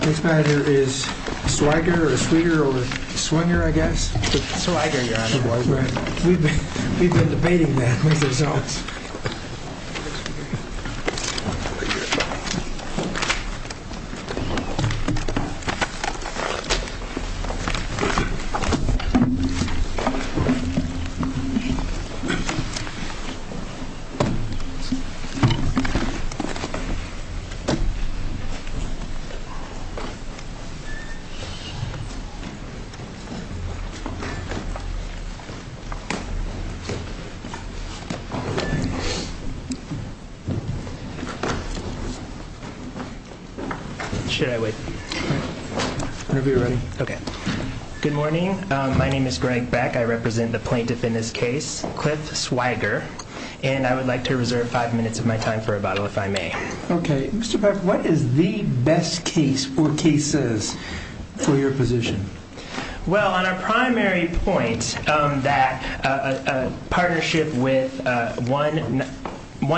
This matter is Swiger or Swiger or Swinger, I guess. Swiger, Your Honor. We've been debating that with ourselves. Should I wait? Whenever you're ready. Okay. Good morning. My name is Greg Beck. I represent the plaintiff in this case, Cliff Swiger. And I would like to reserve five minutes of my time for rebuttal, if I may. Okay. Mr. Beck, what is the best case or cases for your position? Well, on a primary point that a partnership with one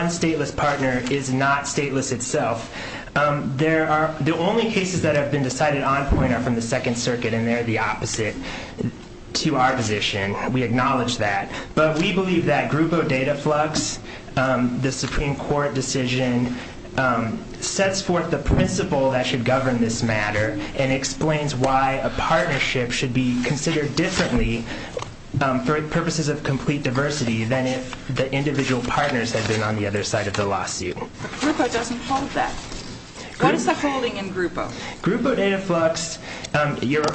stateless partner is not stateless itself, the only cases that have been decided on point are from the Second Circuit, and they're the opposite to our position. We acknowledge that. But we believe that Grupo Dataflux, the Supreme Court decision, sets forth the principle that should govern this matter and explains why a partnership should be considered differently for purposes of complete diversity than if the individual partners had been on the other side of the lawsuit. Grupo doesn't hold that. What is the holding in Grupo? Grupo Dataflux,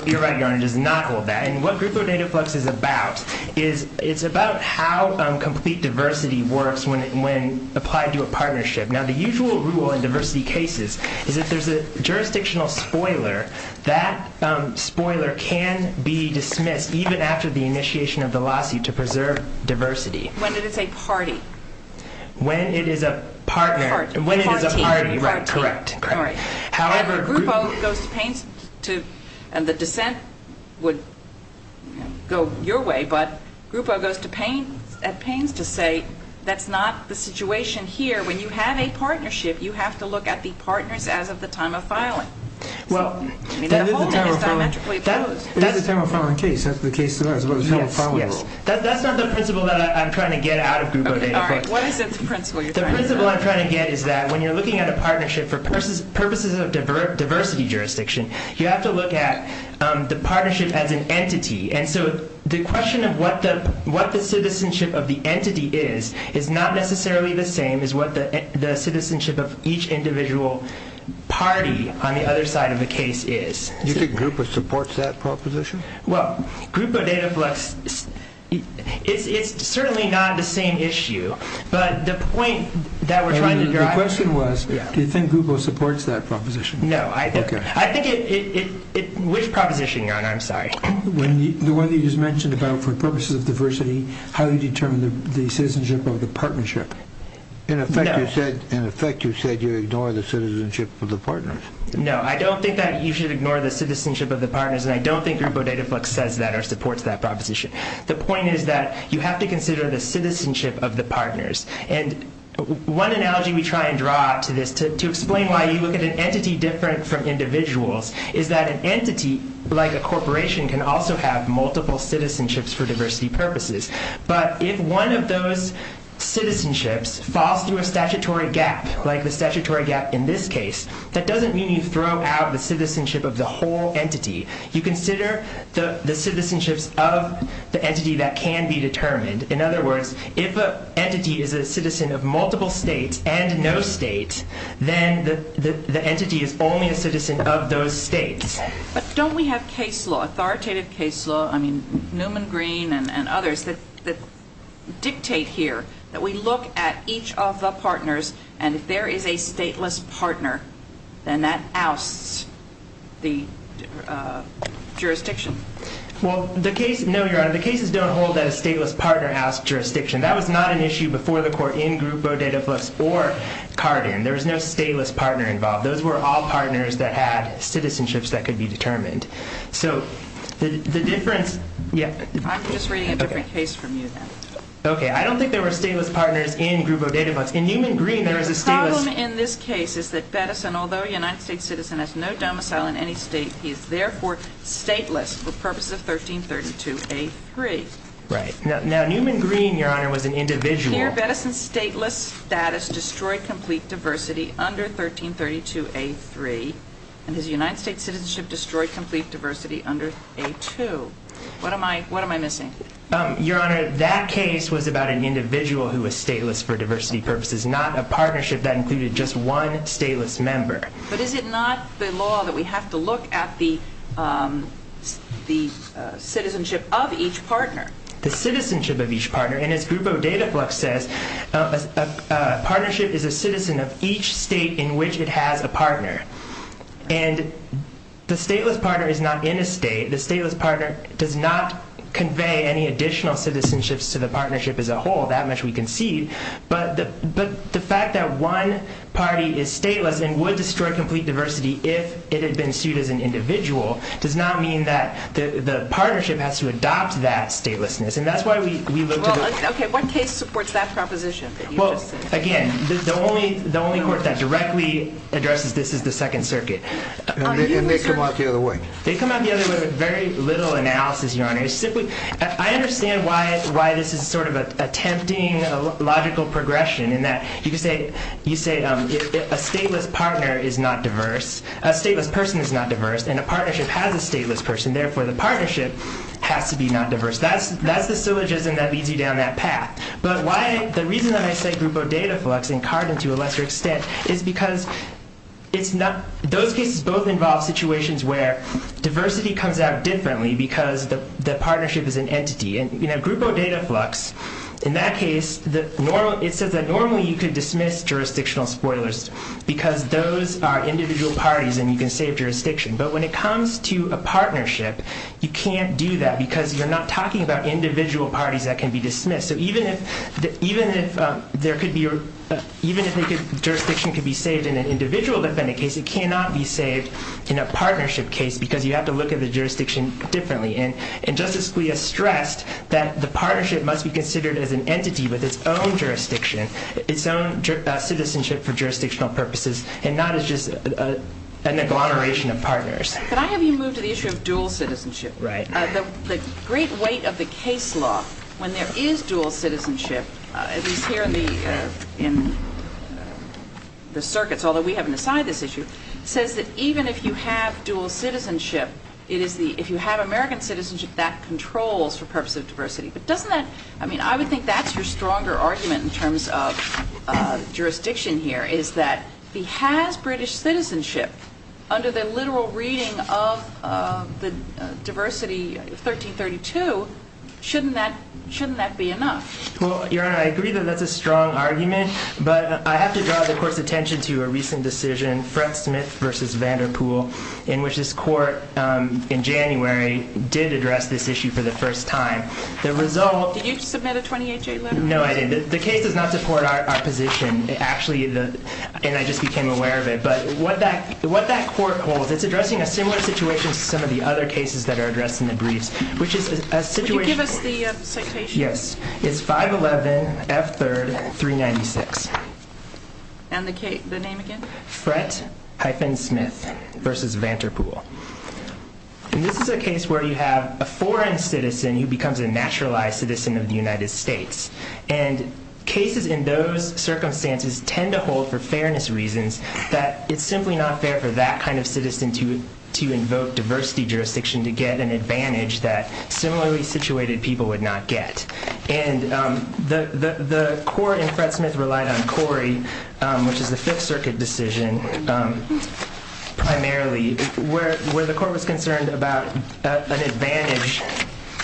Your Honor, does not hold that. And what Grupo Dataflux is about is it's about how complete diversity works when applied to a partnership. Now, the usual rule in diversity cases is if there's a jurisdictional spoiler, that spoiler can be dismissed even after the initiation of the lawsuit to preserve diversity. When it is a party. When it is a partner. When it is a party, right. Correct. However, Grupo goes to Paines to, and the dissent would go your way, but Grupo goes to Paines to say that's not the situation here. When you have a partnership, you have to look at the partners as of the time of filing. Well, that is a time of filing case. That's not the principle that I'm trying to get out of Grupo Dataflux. What is the principle you're trying to get? The principle I'm trying to get is that when you're looking at a partnership for purposes of diversity jurisdiction, you have to look at the partnership as an entity. And so the question of what the citizenship of the entity is, is not necessarily the same as what the citizenship of each individual party on the other side of the case is. You think Grupo supports that proposition? Well, Grupo Dataflux, it's certainly not the same issue. The question was, do you think Grupo supports that proposition? No. Which proposition, John? I'm sorry. The one that you just mentioned about for purposes of diversity, how you determine the citizenship of the partnership. In effect, you said you ignore the citizenship of the partners. No, I don't think that you should ignore the citizenship of the partners, and I don't think Grupo Dataflux says that or supports that proposition. The point is that you have to consider the citizenship of the partners. And one analogy we try and draw to this to explain why you look at an entity different from individuals is that an entity, like a corporation, can also have multiple citizenships for diversity purposes. But if one of those citizenships falls through a statutory gap, like the statutory gap in this case, that doesn't mean you throw out the citizenship of the whole entity. You consider the citizenships of the entity that can be determined. In other words, if an entity is a citizen of multiple states and no state, then the entity is only a citizen of those states. But don't we have case law, authoritative case law, I mean, Newman, Green, and others, that dictate here that we look at each of the partners, and if there is a stateless partner, then that ousts the jurisdiction? Well, the case, no, Your Honor, the cases don't hold that a stateless partner ousts jurisdiction. That was not an issue before the court in Grupo Dataflux or Carden. There was no stateless partner involved. Those were all partners that had citizenships that could be determined. So the difference, yeah. I'm just reading a different case from you, then. Okay, I don't think there were stateless partners in Grupo Dataflux. In Newman, Green, there was a stateless partner. The problem in this case is that Bettison, although a United States citizen, has no domicile in any state, he is therefore stateless for purposes of 1332A3. Right. Now, Newman, Green, Your Honor, was an individual. Here, Bettison's stateless status destroyed complete diversity under 1332A3, and his United States citizenship destroyed complete diversity under A2. What am I missing? Your Honor, that case was about an individual who was stateless for diversity purposes, not a partnership that included just one stateless member. But is it not the law that we have to look at the citizenship of each partner? The citizenship of each partner. And as Grupo Dataflux says, a partnership is a citizen of each state in which it has a partner. And the stateless partner is not in a state. The stateless partner does not convey any additional citizenship to the partnership as a whole, that much we concede. But the fact that one party is stateless and would destroy complete diversity if it had been sued as an individual does not mean that the partnership has to adopt that statelessness. And that's why we look to the court. Okay, what case supports that proposition that you just said? Well, again, the only court that directly addresses this is the Second Circuit. And they come out the other way. They come out the other way with very little analysis, Your Honor. I understand why this is sort of an attempting logical progression in that you say a stateless partner is not diverse, a stateless person is not diverse, and a partnership has a stateless person. Therefore, the partnership has to be not diverse. That's the syllogism that leads you down that path. But the reason that I say Grupo Dataflux and Carden to a lesser extent is because those cases both involve situations where diversity comes out differently because the partnership is an entity. And Grupo Dataflux, in that case, it says that normally you could dismiss jurisdictional spoilers because those are individual parties and you can save jurisdiction. But when it comes to a partnership, you can't do that because you're not talking about individual parties that can be dismissed. So even if jurisdiction could be saved in an individual defendant case, it cannot be saved in a partnership case because you have to look at the jurisdiction differently. And Justice Scalia stressed that the partnership must be considered as an entity with its own jurisdiction, its own citizenship for jurisdictional purposes, and not as just an agglomeration of partners. Could I have you move to the issue of dual citizenship? Right. The great weight of the case law, when there is dual citizenship, at least here in the circuits, although we haven't assigned this issue, says that even if you have dual citizenship, if you have American citizenship, that controls for purposes of diversity. But doesn't that, I mean, I would think that's your stronger argument in terms of jurisdiction here, is that he has British citizenship under the literal reading of the Diversity 1332. Shouldn't that be enough? Well, Your Honor, I agree that that's a strong argument, but I have to draw the Court's attention to a recent decision, Fred Smith v. Vanderpool, in which this Court in January did address this issue for the first time. The result... Did you submit a 28-J letter? No, I didn't. The case does not support our position. Actually, and I just became aware of it, but what that Court holds, it's addressing a similar situation to some of the other cases that are addressed in the briefs, which is a situation... Could you give us the citation? Yes. It's 511 F. 3rd 396. And the name again? Fred Smith v. Vanderpool. And this is a case where you have a foreign citizen who becomes a naturalized citizen of the United States. And cases in those circumstances tend to hold, for fairness reasons, that it's simply not fair for that kind of citizen to invoke diversity jurisdiction to get an advantage that similarly situated people would not get. And the Court in Fred Smith relied on Corey, which is the Fifth Circuit decision, primarily, where the Court was concerned about an advantage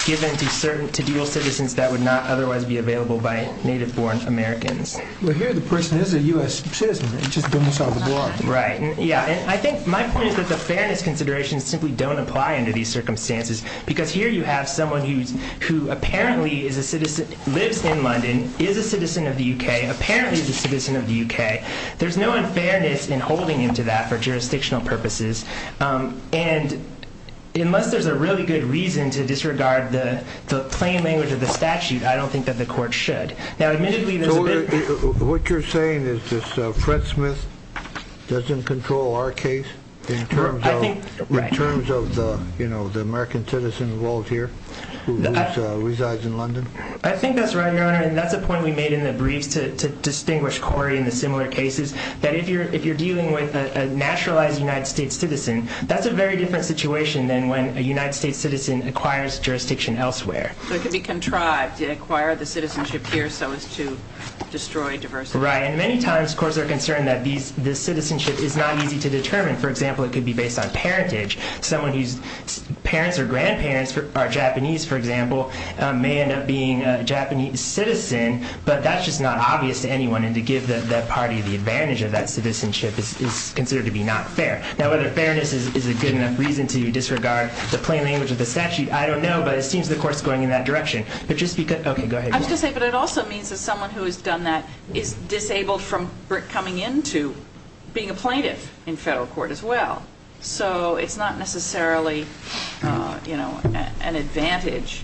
given to dual citizens that would not otherwise be available by native-born Americans. Well, here the person is a U.S. citizen. It just doesn't solve the problem. Right. Yeah, and I think my point is that the fairness considerations simply don't apply under these circumstances because here you have someone who apparently lives in London, is a citizen of the U.K., apparently is a citizen of the U.K. There's no unfairness in holding him to that for jurisdictional purposes. And unless there's a really good reason to disregard the plain language of the statute, I don't think that the Court should. Now, admittedly, there's a bit... So what you're saying is that Fred Smith doesn't control our case in terms of the American citizen involved here, who resides in London? I think that's right, Your Honor. And that's a point we made in the briefs to distinguish Corey and the similar cases, that if you're dealing with a naturalized United States citizen, that's a very different situation than when a United States citizen acquires jurisdiction elsewhere. So it could be contrived to acquire the citizenship here so as to destroy diversity. Right. And many times courts are concerned that this citizenship is not easy to determine. For example, it could be based on parentage. Someone whose parents or grandparents are Japanese, for example, may end up being a Japanese citizen, but that's just not obvious to anyone, and to give that party the advantage of that citizenship is considered to be not fair. Now, whether fairness is a good enough reason to disregard the plain language of the statute, I don't know, but it seems the Court's going in that direction. But just because... Okay, go ahead. I was going to say, but it also means that someone who has done that is disabled from coming in to being a plaintiff in federal court as well. So it's not necessarily, you know, an advantage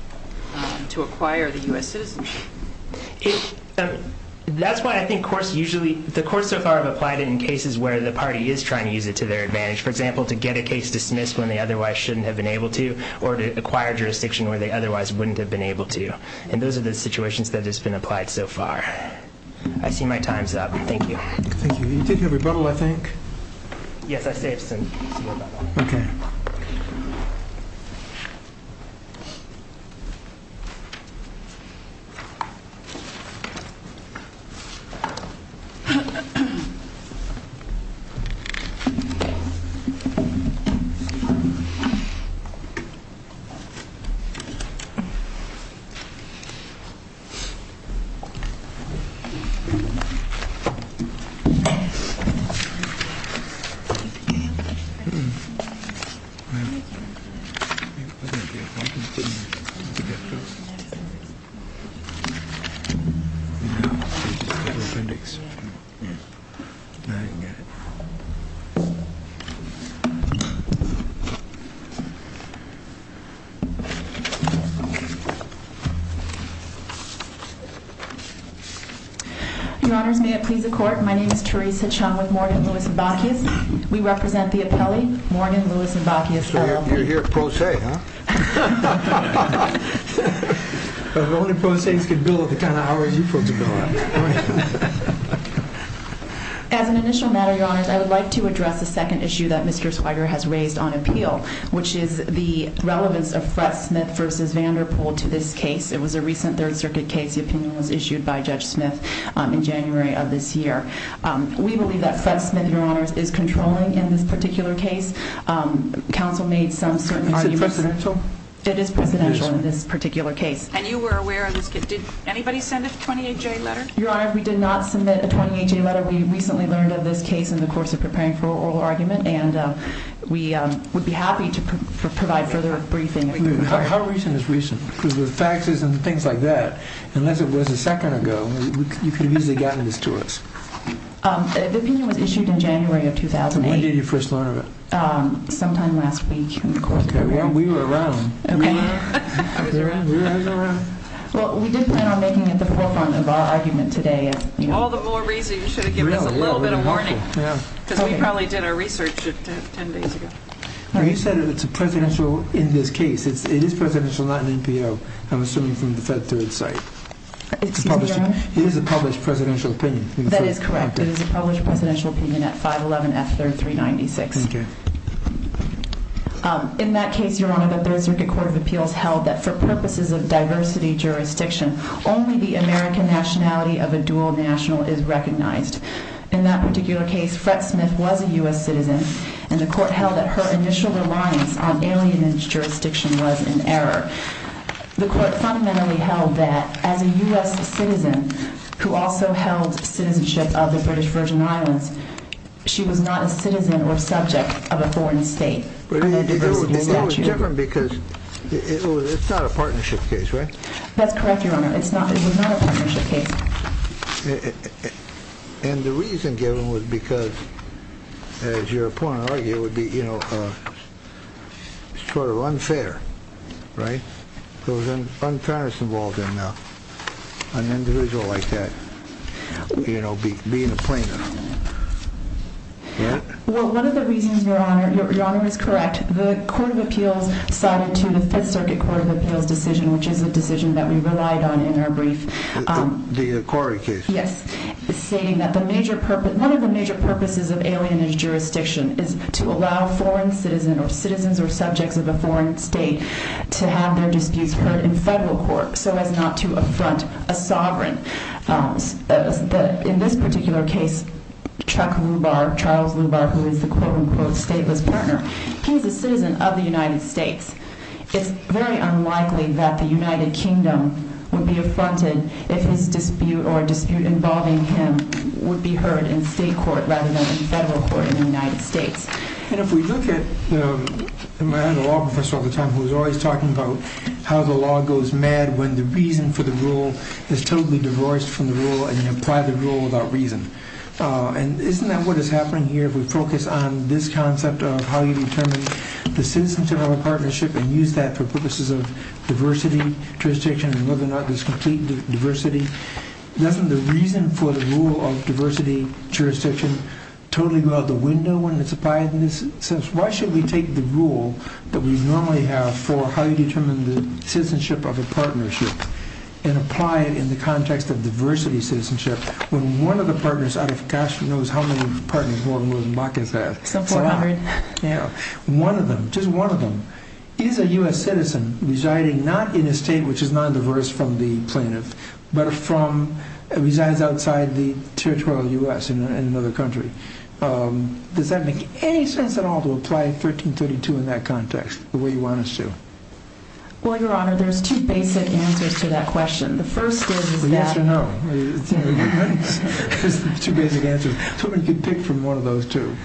to acquire the U.S. citizenship. That's why I think courts usually... The courts so far have applied it in cases where the party is trying to use it to their advantage. For example, to get a case dismissed when they otherwise shouldn't have been able to or to acquire jurisdiction where they otherwise wouldn't have been able to. And those are the situations that have been applied so far. I see my time's up. Thank you. You did your rebuttal, I think. Yes, I saved some. Okay. Thank you. Your Honors, may it please the Court, my name is Therese Hachon with Morgan, Lewis & Bacchius. We represent the appellee, Morgan, Lewis & Bacchius. So you're here pro se, huh? If only pro se's could bill at the kind of hours you folks are doing. As an initial matter, Your Honors, I would like to address the second issue that Mr. Swider has raised on appeal, which is the relevance of Fred Smith v. Vanderpool to this case. It was a recent Third Circuit case. The opinion was issued by Judge Smith in January of this year. We believe that Fred Smith, Your Honors, is controlling in this particular case. Counsel made some certain arguments. Is it presidential? It is presidential in this particular case. And you were aware of this case. Did anybody send a 28-J letter? Your Honors, we did not submit a 28-J letter. We recently learned of this case in the course of preparing for oral argument, and we would be happy to provide further briefing. How recent is recent? Because with faxes and things like that, unless it was a second ago, you could have easily gotten this to us. The opinion was issued in January of 2008. When did you first learn of it? Sometime last week in the course of preparing. We were around. Okay. I was around. We were always around. Well, we did plan on making it the forefront of our argument today. All the more reason you should have given us a little bit of warning. Because we probably did our research 10 days ago. You said it's a presidential in this case. It is presidential, not an NPO. I'm assuming from the Fed to its side. Excuse me, Your Honors? It is a published presidential opinion. That is correct. It is a published presidential opinion at 511F3396. Okay. In that case, Your Honor, the Third Circuit Court of Appeals held that for purposes of diversity jurisdiction, only the American nationality of a dual national is recognized. In that particular case, Fred Smith was a U.S. citizen, and the court held that her initial reliance on alienage jurisdiction was in error. The court fundamentally held that as a U.S. citizen who also held citizenship of the British Virgin Islands, she was not a citizen or subject of a foreign state under a diversity statute. It was different because it's not a partnership case, right? That's correct, Your Honor. It was not a partnership case. And the reason given was because, as your opponent argued, it would be sort of unfair, right? An individual like that, you know, being a plaintiff. Well, one of the reasons, Your Honor, Your Honor is correct. The Court of Appeals sided to the Fifth Circuit Court of Appeals decision, which is a decision that we relied on in our brief. The Corrie case. Yes, stating that one of the major purposes of alienage jurisdiction is to allow foreign citizens or subjects of a foreign state to have their disputes heard in federal court so as not to affront a sovereign. In this particular case, Chuck Lubar, Charles Lubar, who is the quote-unquote stateless partner, he's a citizen of the United States. It's very unlikely that the United Kingdom would be affronted if his dispute or a dispute involving him would be heard in state court rather than in federal court in the United States. And if we look at, I had a law professor all the time who was always talking about how the law goes mad when the reason for the rule is totally divorced from the rule and you apply the rule without reason. And isn't that what is happening here if we focus on this concept of how you determine the citizenship of a partnership and use that for purposes of diversity, jurisdiction, and whether or not there's complete diversity? Doesn't the reason for the rule of diversity, jurisdiction, totally go out the window when it's applied in this sense? Why should we take the rule that we normally have for how you determine the citizenship of a partnership and apply it in the context of diversity citizenship when one of the partners out of, gosh, who knows how many partners Gordon Willis and Bacchus have? Some 400. Yeah. One of them, just one of them, is a U.S. citizen residing not in a state which is non-diverse from the plaintiff, but resides outside the territorial U.S. in another country. Does that make any sense at all to apply 1332 in that context the way you want us to? Well, Your Honor, there's two basic answers to that question. The first is that... The yes or no. There's two basic answers. Somebody can pick from one of those two.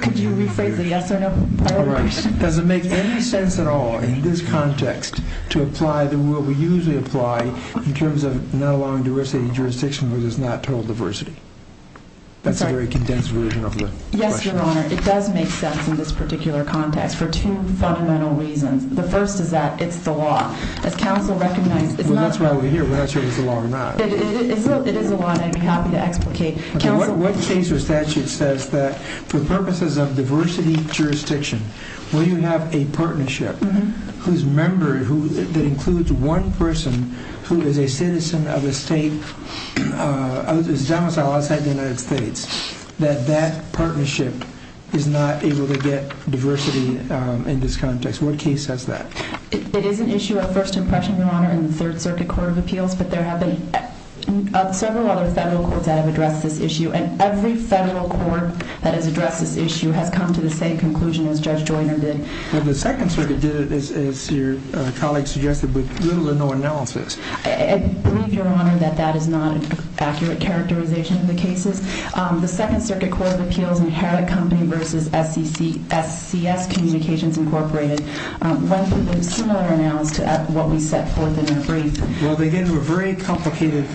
Could you rephrase the yes or no? All right. Does it make any sense at all in this context to apply the rule we usually apply in terms of not allowing diversity in jurisdiction where there's not total diversity? That's a very condensed version of the question. Yes, Your Honor. It does make sense in this particular context for two fundamental reasons. The first is that it's the law. As counsel recognizes... Well, that's why we're here. We're not sure if it's the law or not. It is the law, and I'd be happy to explicate. What case or statute says that for purposes of diversity jurisdiction when you have a partnership whose member, that includes one person who is a citizen of a state that is domiciled outside the United States, that that partnership is not able to get diversity in this context? What case says that? It is an issue of first impression, Your Honor, in the Third Circuit Court of Appeals, but there have been several other federal courts that have addressed this issue, and every federal court that has addressed this issue has come to the same conclusion as Judge Joyner did. Well, the Second Circuit did it, as your colleague suggested, with little or no analysis. I believe, Your Honor, that that is not an accurate characterization of the cases. The Second Circuit Court of Appeals inherit Company v. SCS Communications, Incorporated, one similar analysis to what we set forth in our brief. Well, they get into a very complicated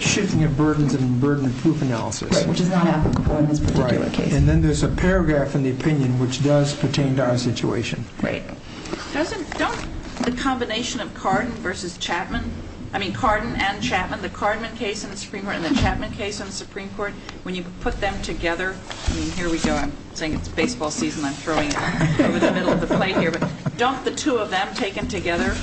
shifting of burdens and burden of proof analysis. Right, which is not applicable in this particular case. Right, and then there's a paragraph in the opinion which does pertain to our situation. Right. Don't the combination of Cardin v. Chapman, I mean Cardin and Chapman, the Cardin case in the Supreme Court and the Chapman case in the Supreme Court, when you put them together, I mean, here we go, I'm saying it's baseball season, I'm throwing it over the middle of the plate here, but don't the two of them taken together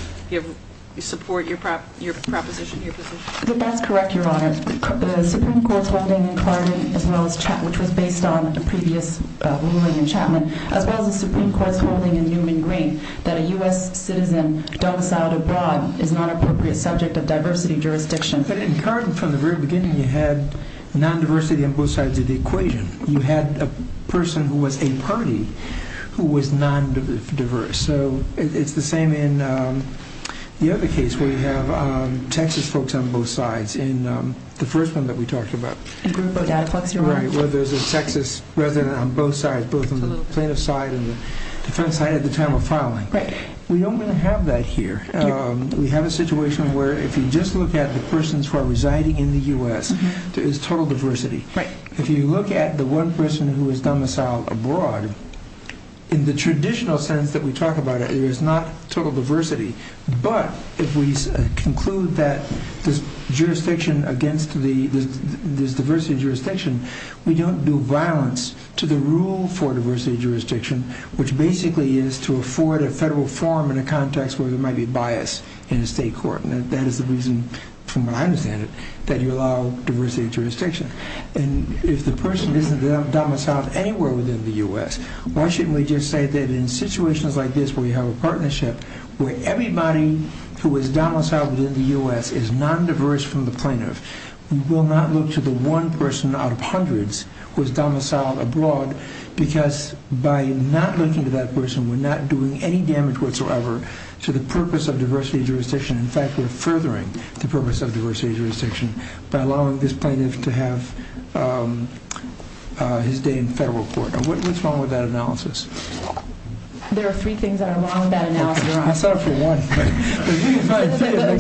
support your proposition, your position? That's correct, Your Honor. The Supreme Court's holding in Cardin as well as Chapman, which was based on a previous ruling in Chapman, as well as the Supreme Court's holding in Newman-Green that a U.S. citizen domiciled abroad is not an appropriate subject of diversity jurisdiction. But in Cardin, from the very beginning, you had non-diversity on both sides of the equation. You had a person who was a party who was non-diverse. So it's the same in the other case where you have Texas folks on both sides in the first one that we talked about. In Groupo Dataflex, Your Honor? Right, where there's a Texas resident on both sides, both on the plaintiff's side and the defense side at the time of filing. Right. We don't really have that here. We have a situation where if you just look at the persons who are residing in the U.S., there is total diversity. Right. If you look at the one person who was domiciled abroad, in the traditional sense that we talk about it, there is not total diversity. But if we conclude that this jurisdiction against this diversity jurisdiction, we don't do violence to the rule for diversity jurisdiction, which basically is to afford a federal forum in a context where there might be bias in a state court. And that is the reason, from what I understand it, that you allow diversity jurisdiction. And if the person isn't domiciled anywhere within the U.S., why shouldn't we just say that in situations like this where you have a partnership, where everybody who is domiciled within the U.S. is non-diverse from the plaintiff, we will not look to the one person out of hundreds who is domiciled abroad, because by not looking to that person, we are not doing any damage whatsoever to the purpose of diversity jurisdiction. In fact, we are furthering the purpose of diversity jurisdiction by allowing this plaintiff to have his day in federal court. What is wrong with that analysis? There are three things that are wrong with that analysis. I saw it for one. The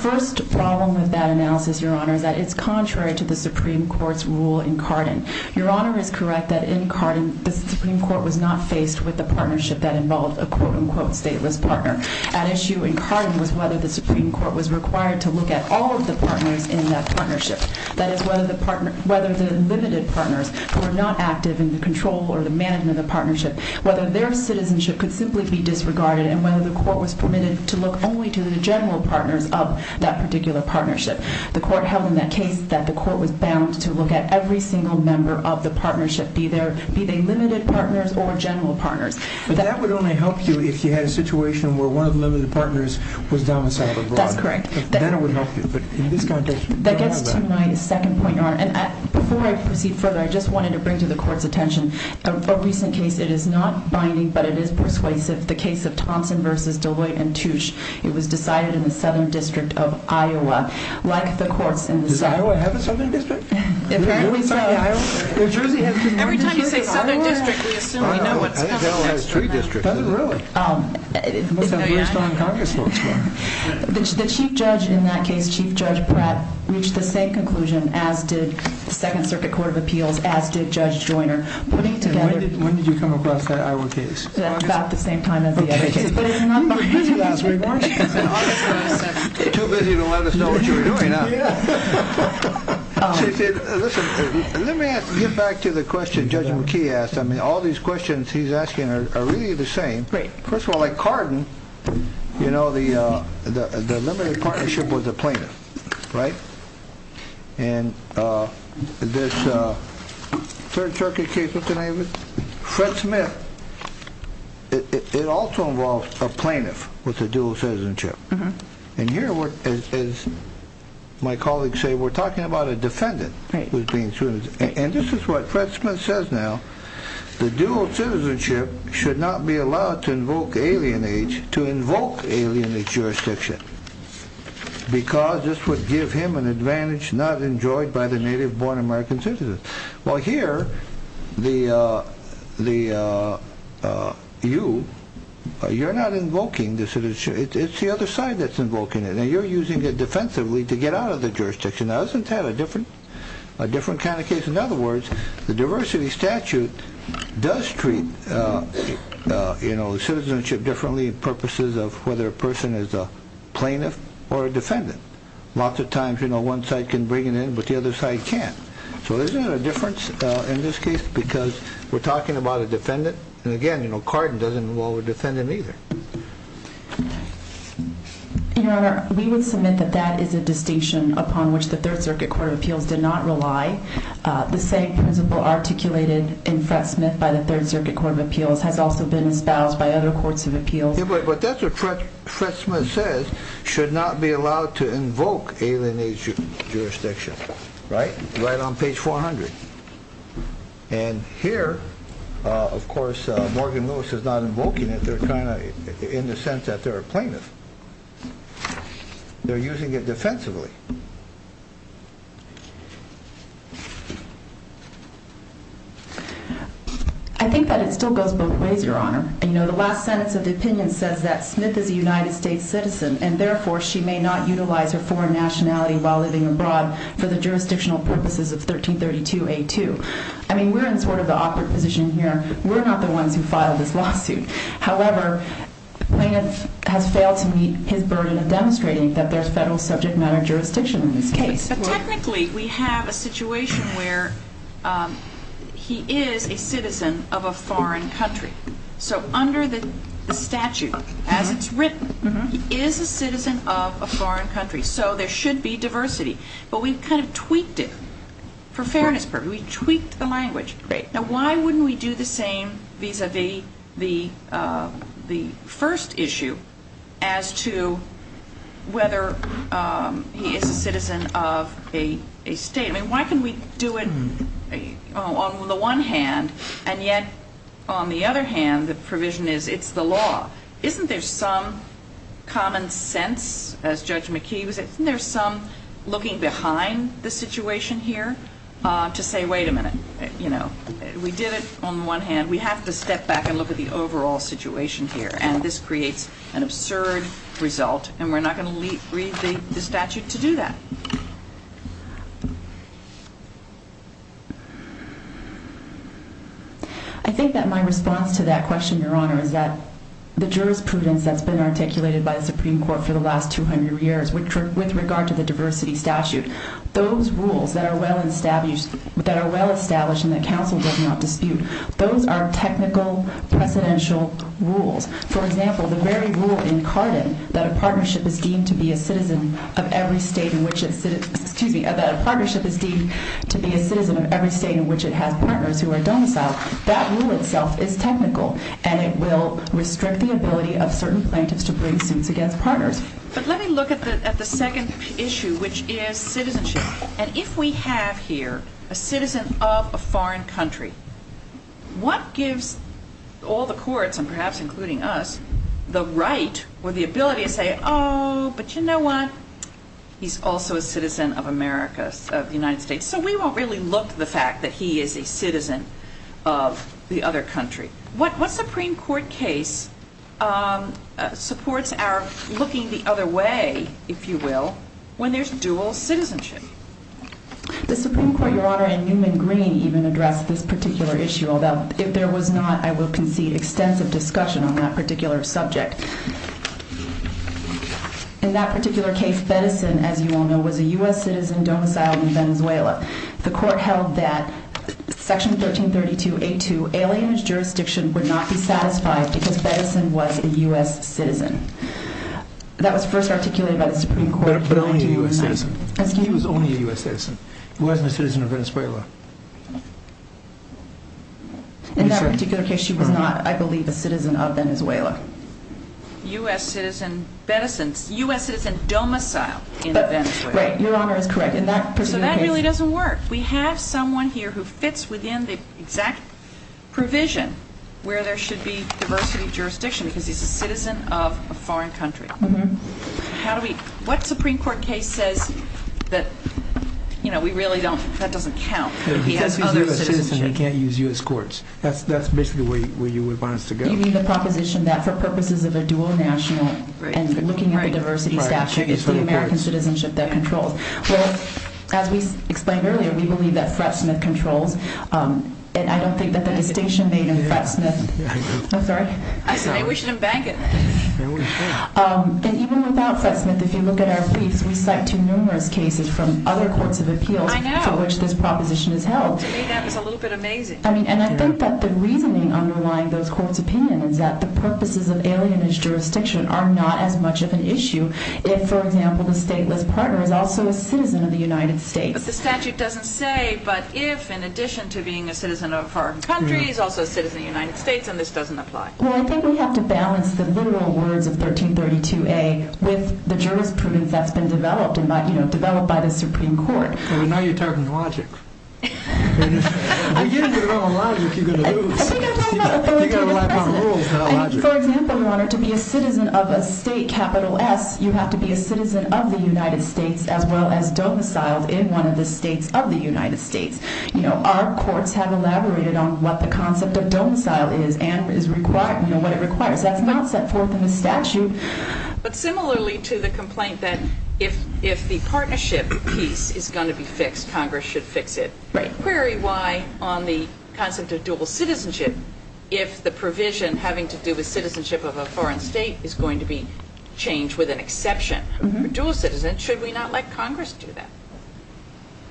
first problem with that analysis, Your Honor, is that it's contrary to the Supreme Court's rule in Cardin. Your Honor is correct that in Cardin, the Supreme Court was not faced with the partnership that involved a quote-unquote stateless partner. At issue in Cardin was whether the Supreme Court was required to look at all of the partners in that partnership. That is, whether the limited partners who are not active in the control or the management of the partnership, whether their citizenship could simply be disregarded and whether the court was permitted to look only to the general partners of that particular partnership. The court held in that case that the court was bound to look at every single member of the partnership, be they limited partners or general partners. But that would only help you if you had a situation where one of the limited partners was domiciled abroad. That's correct. Then it would help you, but in this context, you don't have that. That gets to my second point, Your Honor. Before I proceed further, I just wanted to bring to the court's attention a recent case. It is not binding, but it is persuasive. The case of Thompson v. Deloitte & Touche. It was decided in the Southern District of Iowa, like the courts in the South. Does Iowa have a Southern District? Apparently so. Every time you say Southern District, we assume we know what's going on. I think Iowa has three districts, doesn't it? Does it really? No, Your Honor. The Chief Judge in that case, Chief Judge Pratt, reached the same conclusion as did the Second Circuit Court of Appeals, as did Judge Joyner, putting together When did you come across that Iowa case? At about the same time as the other cases. You were too busy to let us know what you were doing. Let me get back to the question Judge McKee asked. All these questions he's asking are really the same. First of all, like Cardin, the limited partnership was a plaintiff. And this Third Circuit case, what's the name of it? Fred Smith. It also involves a plaintiff with a dual citizenship. And here, as my colleagues say, we're talking about a defendant. And this is what Fred Smith says now. The dual citizenship should not be allowed to invoke alien age, to invoke alien age jurisdiction, because this would give him an advantage not enjoyed by the native-born American citizen. Well, here, you're not invoking the citizenship. It's the other side that's invoking it. And you're using it defensively to get out of the jurisdiction. Now, isn't that a different kind of case? In other words, the diversity statute does treat citizenship differently in purposes of whether a person is a plaintiff or a defendant. Lots of times one side can bring it in, but the other side can't. So isn't it a difference in this case because we're talking about a defendant? And again, you know, Cardin doesn't involve a defendant either. Your Honor, we would submit that that is a distinction upon which the Third Circuit Court of Appeals did not rely. The same principle articulated in Fred Smith by the Third Circuit Court of Appeals has also been espoused by other courts of appeals. But that's what Fred Smith says, should not be allowed to invoke alien age jurisdiction. Right? Right on page 400. And here, of course, Morgan Lewis is not invoking it. They're kind of in the sense that they're a plaintiff. They're using it defensively. I think that it still goes both ways, Your Honor. You know, the last sentence of the opinion says that Smith is a United States citizen and therefore she may not utilize her foreign nationality while living abroad for the jurisdictional purposes of 1332A2. I mean, we're in sort of the awkward position here. We're not the ones who filed this lawsuit. However, plaintiff has failed to meet his burden of demonstrating that there's federal subject matter jurisdiction in this case. But technically we have a situation where he is a citizen of a foreign country. So under the statute, as it's written, he is a citizen of a foreign country. So there should be diversity. But we've kind of tweaked it for fairness purposes. We've tweaked the language. Now, why wouldn't we do the same vis-a-vis the first issue as to whether he is a citizen of a state? I mean, why can we do it on the one hand and yet on the other hand the provision is it's the law? Isn't there some common sense, as Judge McKee was saying? Isn't there some looking behind the situation here to say, wait a minute, you know, we did it on the one hand. We have to step back and look at the overall situation here. And this creates an absurd result, and we're not going to read the statute to do that. I think that my response to that question, Your Honor, is that the jurisprudence that's been articulated by the Supreme Court for the last 200 years, with regard to the diversity statute, those rules that are well established and that counsel does not dispute, those are technical, precedential rules. For example, the very rule in Carden that a partnership is deemed to be a citizen of every state in which it has partners who are domiciled, that rule itself is technical, and it will restrict the ability of certain plaintiffs to bring suits against partners. But let me look at the second issue, which is citizenship. And if we have here a citizen of a foreign country, what gives all the courts, and perhaps including us, the right or the ability to say, oh, but you know what? He's also a citizen of America, of the United States. So we won't really look to the fact that he is a citizen of the other country. What Supreme Court case supports our looking the other way, if you will, when there's dual citizenship? The Supreme Court, Your Honor, and Newman Green even addressed this particular issue, although if there was not, I will concede extensive discussion on that particular subject. In that particular case, Feddesen, as you all know, was a U.S. citizen domiciled in Venezuela. The court held that Section 1332A2, alienage jurisdiction, would not be satisfied because Feddesen was a U.S. citizen. That was first articulated by the Supreme Court. But only a U.S. citizen. Excuse me? He was only a U.S. citizen. He wasn't a citizen of Venezuela. In that particular case, he was not, I believe, a citizen of Venezuela. U.S. citizen Feddesen, U.S. citizen domiciled in Venezuela. Right, Your Honor is correct. In that particular case. So that really doesn't work. We have someone here who fits within the exact provision where there should be diversity of jurisdiction because he's a citizen of a foreign country. How do we, what Supreme Court case says that, you know, we really don't, that doesn't count if he has other citizenship. Because he's a U.S. citizen, he can't use U.S. courts. That's basically where you would want us to go. You mean the proposition that for purposes of a dual national and looking at the diversity statute, it's the American citizenship that controls. Well, as we explained earlier, we believe that Fred Smith controls. And I don't think that the distinction made in Fred Smith. I'm sorry? I say we should embank it. And even without Fred Smith, if you look at our briefs, we cite two numerous cases from other courts of appeals for which this proposition is held. To me, that was a little bit amazing. I mean, and I think that the reasoning underlying those courts' opinion is that the purposes of alienage jurisdiction are not as much of an issue. If, for example, the stateless partner is also a citizen of the United States. But the statute doesn't say, but if, in addition to being a citizen of foreign countries, also a citizen of the United States, and this doesn't apply. Well, I think we have to balance the literal words of 1332A with the jurisprudence that's been developed, you know, developed by the Supreme Court. But now you're talking logic. If you're going to rely on logic, you're going to lose. I think I'm lying about the 1332A. You've got to rely upon rules, not logic. If, for example, you wanted to be a citizen of a state, capital S, you have to be a citizen of the United States as well as domiciled in one of the states of the United States. You know, our courts have elaborated on what the concept of domicile is and what it requires. That's not set forth in the statute. But similarly to the complaint that if the partnership piece is going to be fixed, Congress should fix it. Right. I would query why on the concept of dual citizenship, if the provision having to do with citizenship of a foreign state is going to be changed with an exception. For dual citizens, should we not let Congress do that?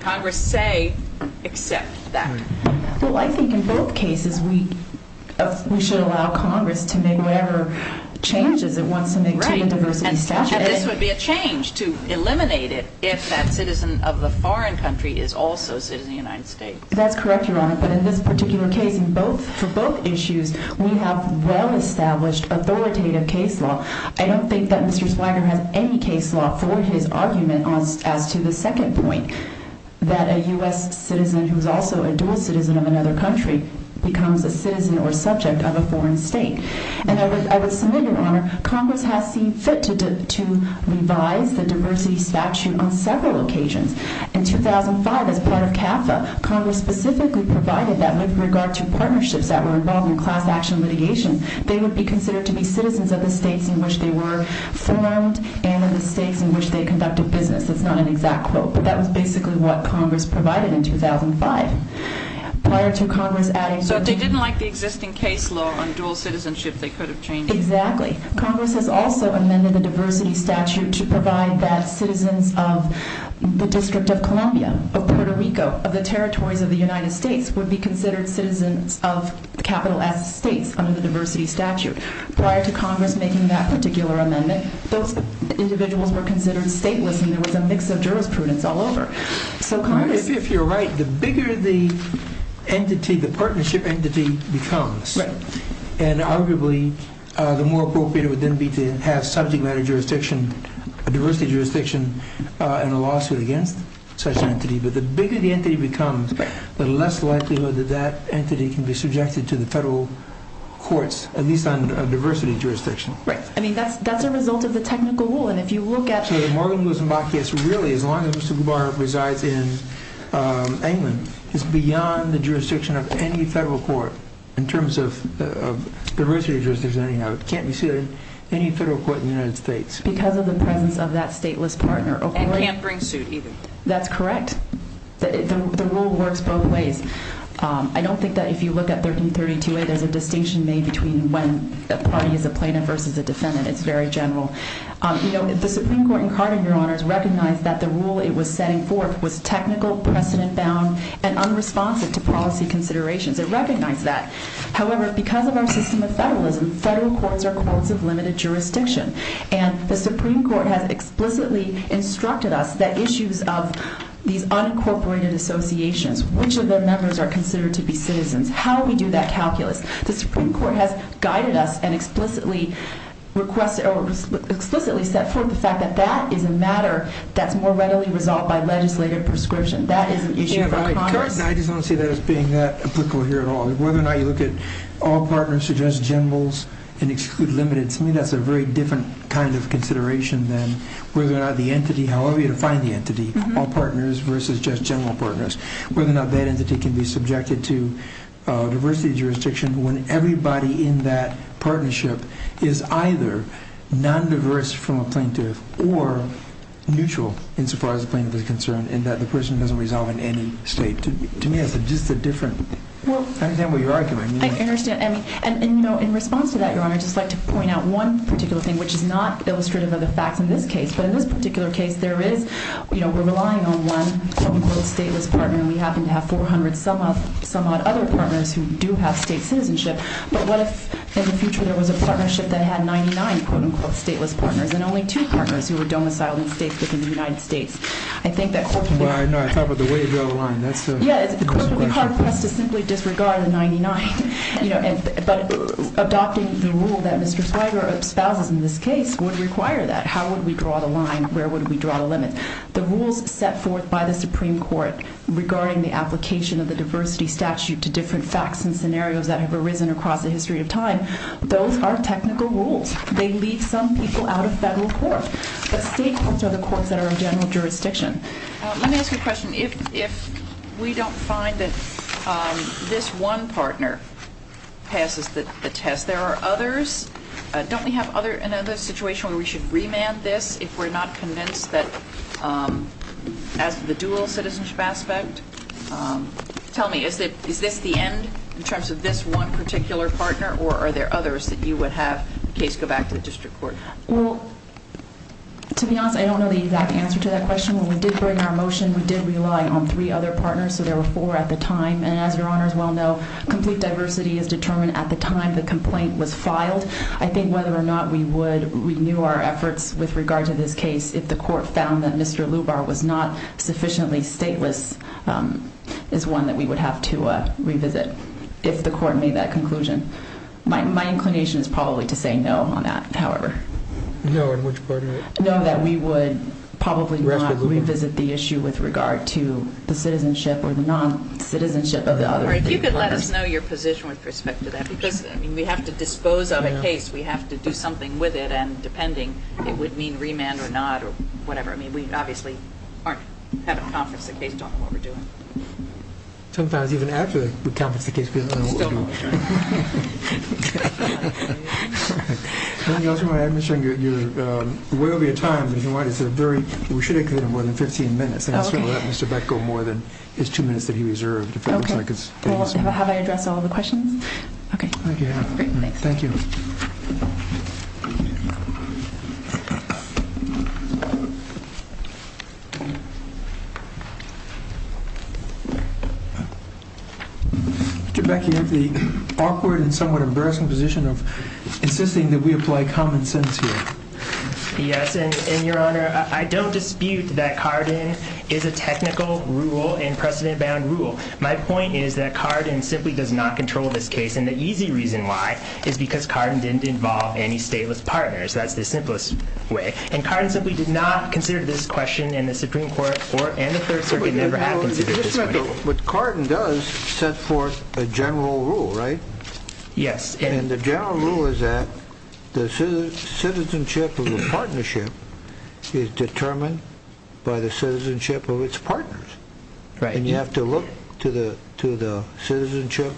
Congress say accept that. Well, I think in both cases we should allow Congress to make whatever changes it wants to make to the diversity statute. And this would be a change to eliminate it if that citizen of the foreign country is also a citizen of the United States. That's correct, Your Honor. But in this particular case, for both issues, we have well-established authoritative case law. I don't think that Mr. Swagger has any case law for his argument as to the second point, that a U.S. citizen who is also a dual citizen of another country becomes a citizen or subject of a foreign state. And I would submit, Your Honor, Congress has seen fit to revise the diversity statute on several occasions. In 2005, as part of CAFA, Congress specifically provided that with regard to partnerships that were involved in class action litigation, they would be considered to be citizens of the states in which they were formed and of the states in which they conducted business. That's not an exact quote, but that was basically what Congress provided in 2005. So if they didn't like the existing case law on dual citizenship, they could have changed it? Exactly. Congress has also amended the diversity statute to provide that citizens of the District of Columbia, of Puerto Rico, of the territories of the United States would be considered citizens of the capital S states under the diversity statute. Prior to Congress making that particular amendment, those individuals were considered stateless, and there was a mix of jurisprudence all over. If you're right, the bigger the entity, the partnership entity becomes, and arguably the more appropriate it would then be to have subject matter jurisdiction, a diversity jurisdiction, and a lawsuit against such an entity. But the bigger the entity becomes, the less likelihood that that entity can be subjected to the federal courts, at least on diversity jurisdiction. Right. I mean, that's a result of the technical rule. Actually, Morgan Lewis and Bacchius, really, as long as Mr. Gubar resides in England, is beyond the jurisdiction of any federal court in terms of diversity jurisdiction. It can't be sued in any federal court in the United States. Because of the presence of that stateless partner. And can't bring suit either. That's correct. The rule works both ways. I don't think that if you look at 1332a, there's a distinction made between when the party is a plaintiff versus a defendant. It's very general. You know, the Supreme Court in Carter, Your Honors, recognized that the rule it was setting forth was technical, precedent-bound, and unresponsive to policy considerations. It recognized that. However, because of our system of federalism, federal courts are courts of limited jurisdiction. And the Supreme Court has explicitly instructed us that issues of these unincorporated associations, which of the members are considered to be citizens, how we do that calculus. The Supreme Court has guided us and explicitly requested or explicitly set forth the fact that that is a matter that's more readily resolved by legislative prescription. That is an issue for Congress. I just don't see that as being that applicable here at all. Whether or not you look at all partners or just generals and exclude limited. To me, that's a very different kind of consideration than whether or not the entity, however you define the entity, all partners versus just general partners. Whether or not that entity can be subjected to diversity of jurisdiction when everybody in that partnership is either non-diverse from a plaintiff or neutral insofar as the plaintiff is concerned. And that the person doesn't resolve in any state. To me, that's just a different. I understand what you're arguing. I understand. And, you know, in response to that, Your Honor, I'd just like to point out one particular thing, which is not illustrative of the facts in this case. But in this particular case, there is, you know, we're relying on one quote-unquote stateless partner. And we happen to have 400 some-odd other partners who do have state citizenship. But what if in the future there was a partnership that had 99 quote-unquote stateless partners and only two partners who were domiciled in state within the United States? I think that corporately- Well, I know. I thought about the way you draw the line. That's a- Yeah. It's corporately hard for us to simply disregard the 99. But adopting the rule that Mr. Zweig or spouses in this case would require that. How would we draw the line? Where would we draw the limit? The rules set forth by the Supreme Court regarding the application of the diversity statute to different facts and scenarios that have arisen across the history of time, those are technical rules. They leave some people out of federal court. But state courts are the courts that are in general jurisdiction. Let me ask you a question. If we don't find that this one partner passes the test, there are others. Don't we have another situation where we should remand this if we're not convinced that as the dual citizenship aspect? Tell me, is this the end in terms of this one particular partner? Or are there others that you would have in case you go back to the district court? Well, to be honest, I don't know the exact answer to that question. When we did bring our motion, we did rely on three other partners. So there were four at the time. And as your honors well know, complete diversity is determined at the time the complaint was filed. I think whether or not we would renew our efforts with regard to this case if the court found that Mr. Lubar was not sufficiently stateless is one that we would have to revisit if the court made that conclusion. My inclination is probably to say no on that, however. No, in which part of it? No, that we would probably not revisit the issue with regard to the citizenship or the non-citizenship of the other three partners. All right, if you could let us know your position with respect to that. Because we have to dispose of a case. We have to do something with it. And depending, it would mean remand or not or whatever. I mean, we obviously haven't conferenced the case, don't know what we're doing. We still don't know what we're doing. Let me also add, Ms. Young, you're way over your time. We should have you in more than 15 minutes. And I'll certainly let Mr. Beck go more than his two minutes that he reserved. Okay. Have I addressed all of the questions? Okay. Thank you. Great, thanks. Thank you. Mr. Beck, you have the awkward and somewhat embarrassing position of insisting that we apply common sense here. Yes, and, Your Honor, I don't dispute that Carden is a technical rule and precedent-bound rule. My point is that Carden simply does not control this case. And the easy reason why is because Carden didn't involve any stateless partners. That's the simplest way. And Carden simply did not consider this question, and the Supreme Court and the Third Circuit never have considered this question. But Carden does set forth a general rule, right? Yes. And the general rule is that the citizenship of a partnership is determined by the citizenship of its partners. Right. And you have to look to the citizenship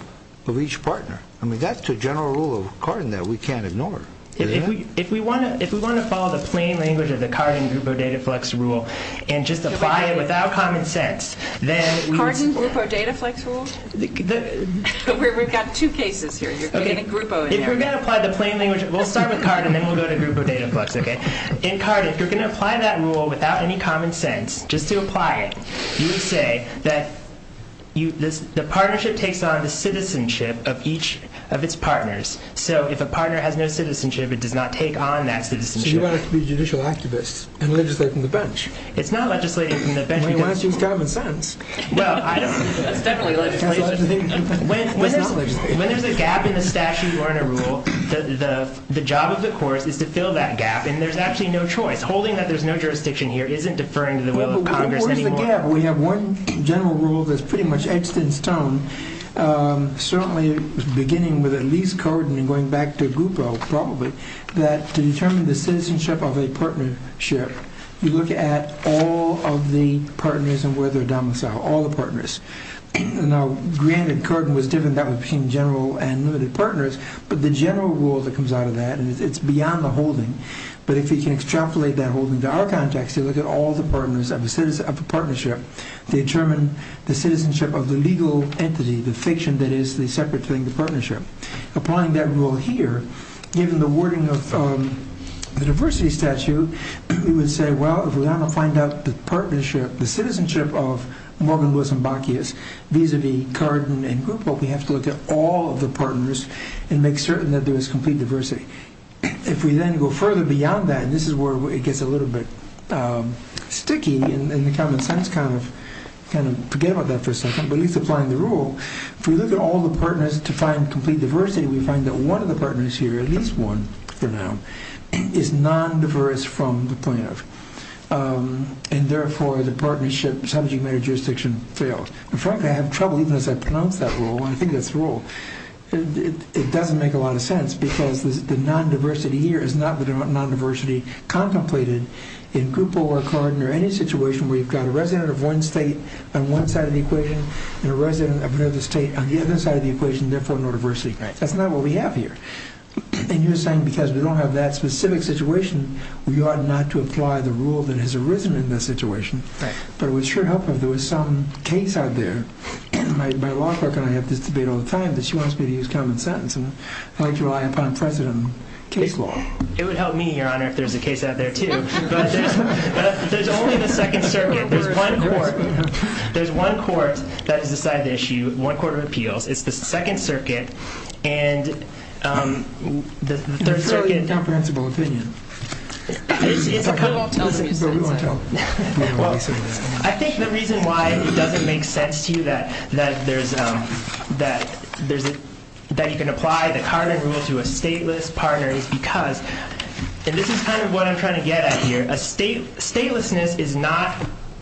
of each partner. I mean, that's the general rule of Carden that we can't ignore. If we want to follow the plain language of the Carden-Grupo-Dataflex rule and just apply it without common sense, then we would say that we're going to apply the plain language. We'll start with Carden and then we'll go to Grupo-Dataflex, okay? In Carden, if you're going to apply that rule without any common sense, just to apply it, you would say that the partnership takes on the citizenship of each of its partners. So if a partner has no citizenship, it does not take on that citizenship. So you want it to be a judicial activist and legislate from the bench. It's not legislating from the bench. I mean, why is it common sense? Well, I don't know. That's definitely legislation. When there's a gap in a statute or in a rule, the job of the courts is to fill that gap, and there's actually no choice. Holding that there's no jurisdiction here isn't deferring to the will of Congress anymore. What is the gap? We have one general rule that's pretty much etched in stone, certainly beginning with at least Carden and going back to Grupo, probably, that to determine the citizenship of a partnership, you look at all of the partners and where they're domiciled, all the partners. Now, granted, Carden was different. That was between general and limited partners, but the general rule that comes out of that, and it's beyond the holding, but if you can extrapolate that holding to our context, you look at all the partners of a partnership to determine the citizenship of the legal entity, the fiction that is the separate thing, the partnership. Applying that rule here, given the wording of the diversity statute, you would say, well, if we want to find out the partnership, the citizenship of Morgan, Lewis, and Bacchius vis-a-vis Carden and Grupo, we have to look at all of the partners and make certain that there is complete diversity. If we then go further beyond that, and this is where it gets a little bit sticky in the common sense, kind of forget about that for a second, but at least applying the rule, if we look at all the partners to find complete diversity, we find that one of the partners here, at least one for now, is non-diverse from the point of, and therefore, the partnership subject matter jurisdiction failed. In fact, I have trouble even as I pronounce that rule, and I think that's the rule. It doesn't make a lot of sense because the non-diversity here is not the non-diversity contemplated in Grupo or Carden or any situation where you've got a resident of one state on one side of the equation and a resident of another state on the other side of the equation, therefore, no diversity. That's not what we have here, and you're saying because we don't have that specific situation, we ought not to apply the rule that has arisen in that situation, but it would sure help if there was some case out there. My law clerk and I have this debate all the time that she wants me to use common sense, and I like to rely upon precedent case law. It would help me, Your Honor, if there's a case out there, too, but there's only the Second Circuit. There's one court that has decided the issue, one court of appeals. It's the Second Circuit and the Third Circuit. Fairly incomprehensible opinion. I think the reason why it doesn't make sense to you that you can apply the Carden rule to a stateless partner is because, and this is kind of what I'm trying to get at here, statelessness is not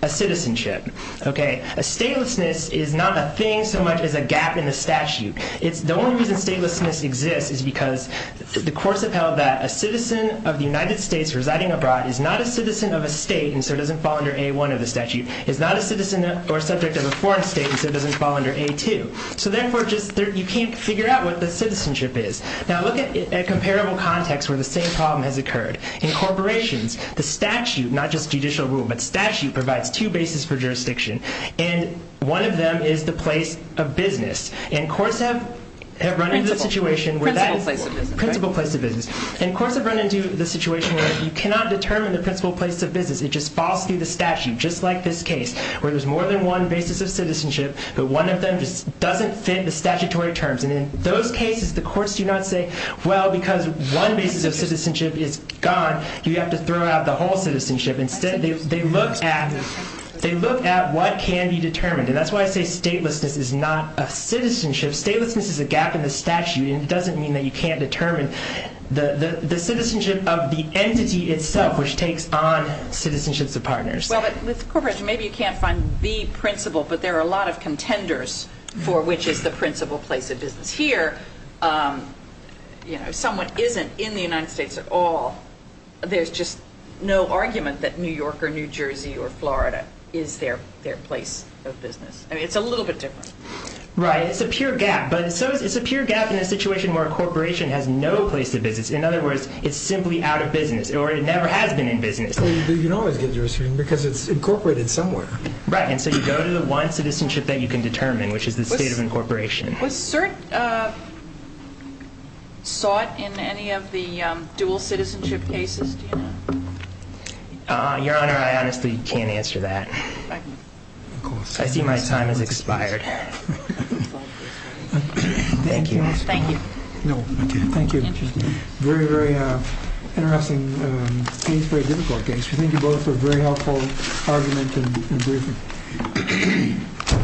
a citizenship. A statelessness is not a thing so much as a gap in the statute. The only reason statelessness exists is because the courts have held that a citizen of the United States residing abroad is not a citizen of a state and so doesn't fall under A1 of the statute, is not a citizen or subject of a foreign state and so doesn't fall under A2. So therefore, you can't figure out what the citizenship is. Now, look at a comparable context where the same problem has occurred. In corporations, the statute, not just judicial rule, but statute provides two bases for jurisdiction, and one of them is the place of business. And courts have run into the situation where you cannot determine the principal place of business. It just falls through the statute, just like this case, where there's more than one basis of citizenship, but one of them just doesn't fit the statutory terms. And in those cases, the courts do not say, well, because one basis of citizenship is gone, you have to throw out the whole citizenship. Instead, they look at what can be determined. And that's why I say statelessness is not a citizenship. Statelessness is a gap in the statute, and it doesn't mean that you can't determine the citizenship of the entity itself, which takes on citizenships of partners. Well, but with corporations, maybe you can't find the principal, but there are a lot of contenders for which is the principal place of business. Here, if someone isn't in the United States at all, there's just no argument that New York or New Jersey or Florida is their place of business. I mean, it's a little bit different. Right, it's a pure gap. But it's a pure gap in a situation where a corporation has no place of business. In other words, it's simply out of business, or it never has been in business. But you can always get jurisdiction, because it's incorporated somewhere. Right, and so you go to the one citizenship that you can determine, which is the state of incorporation. Was cert sought in any of the dual citizenship cases? Do you know? Your Honor, I honestly can't answer that. I see my time has expired. Thank you. Thank you. No, thank you. Very, very interesting case, very difficult case. I think you both have a very helpful argument and briefing.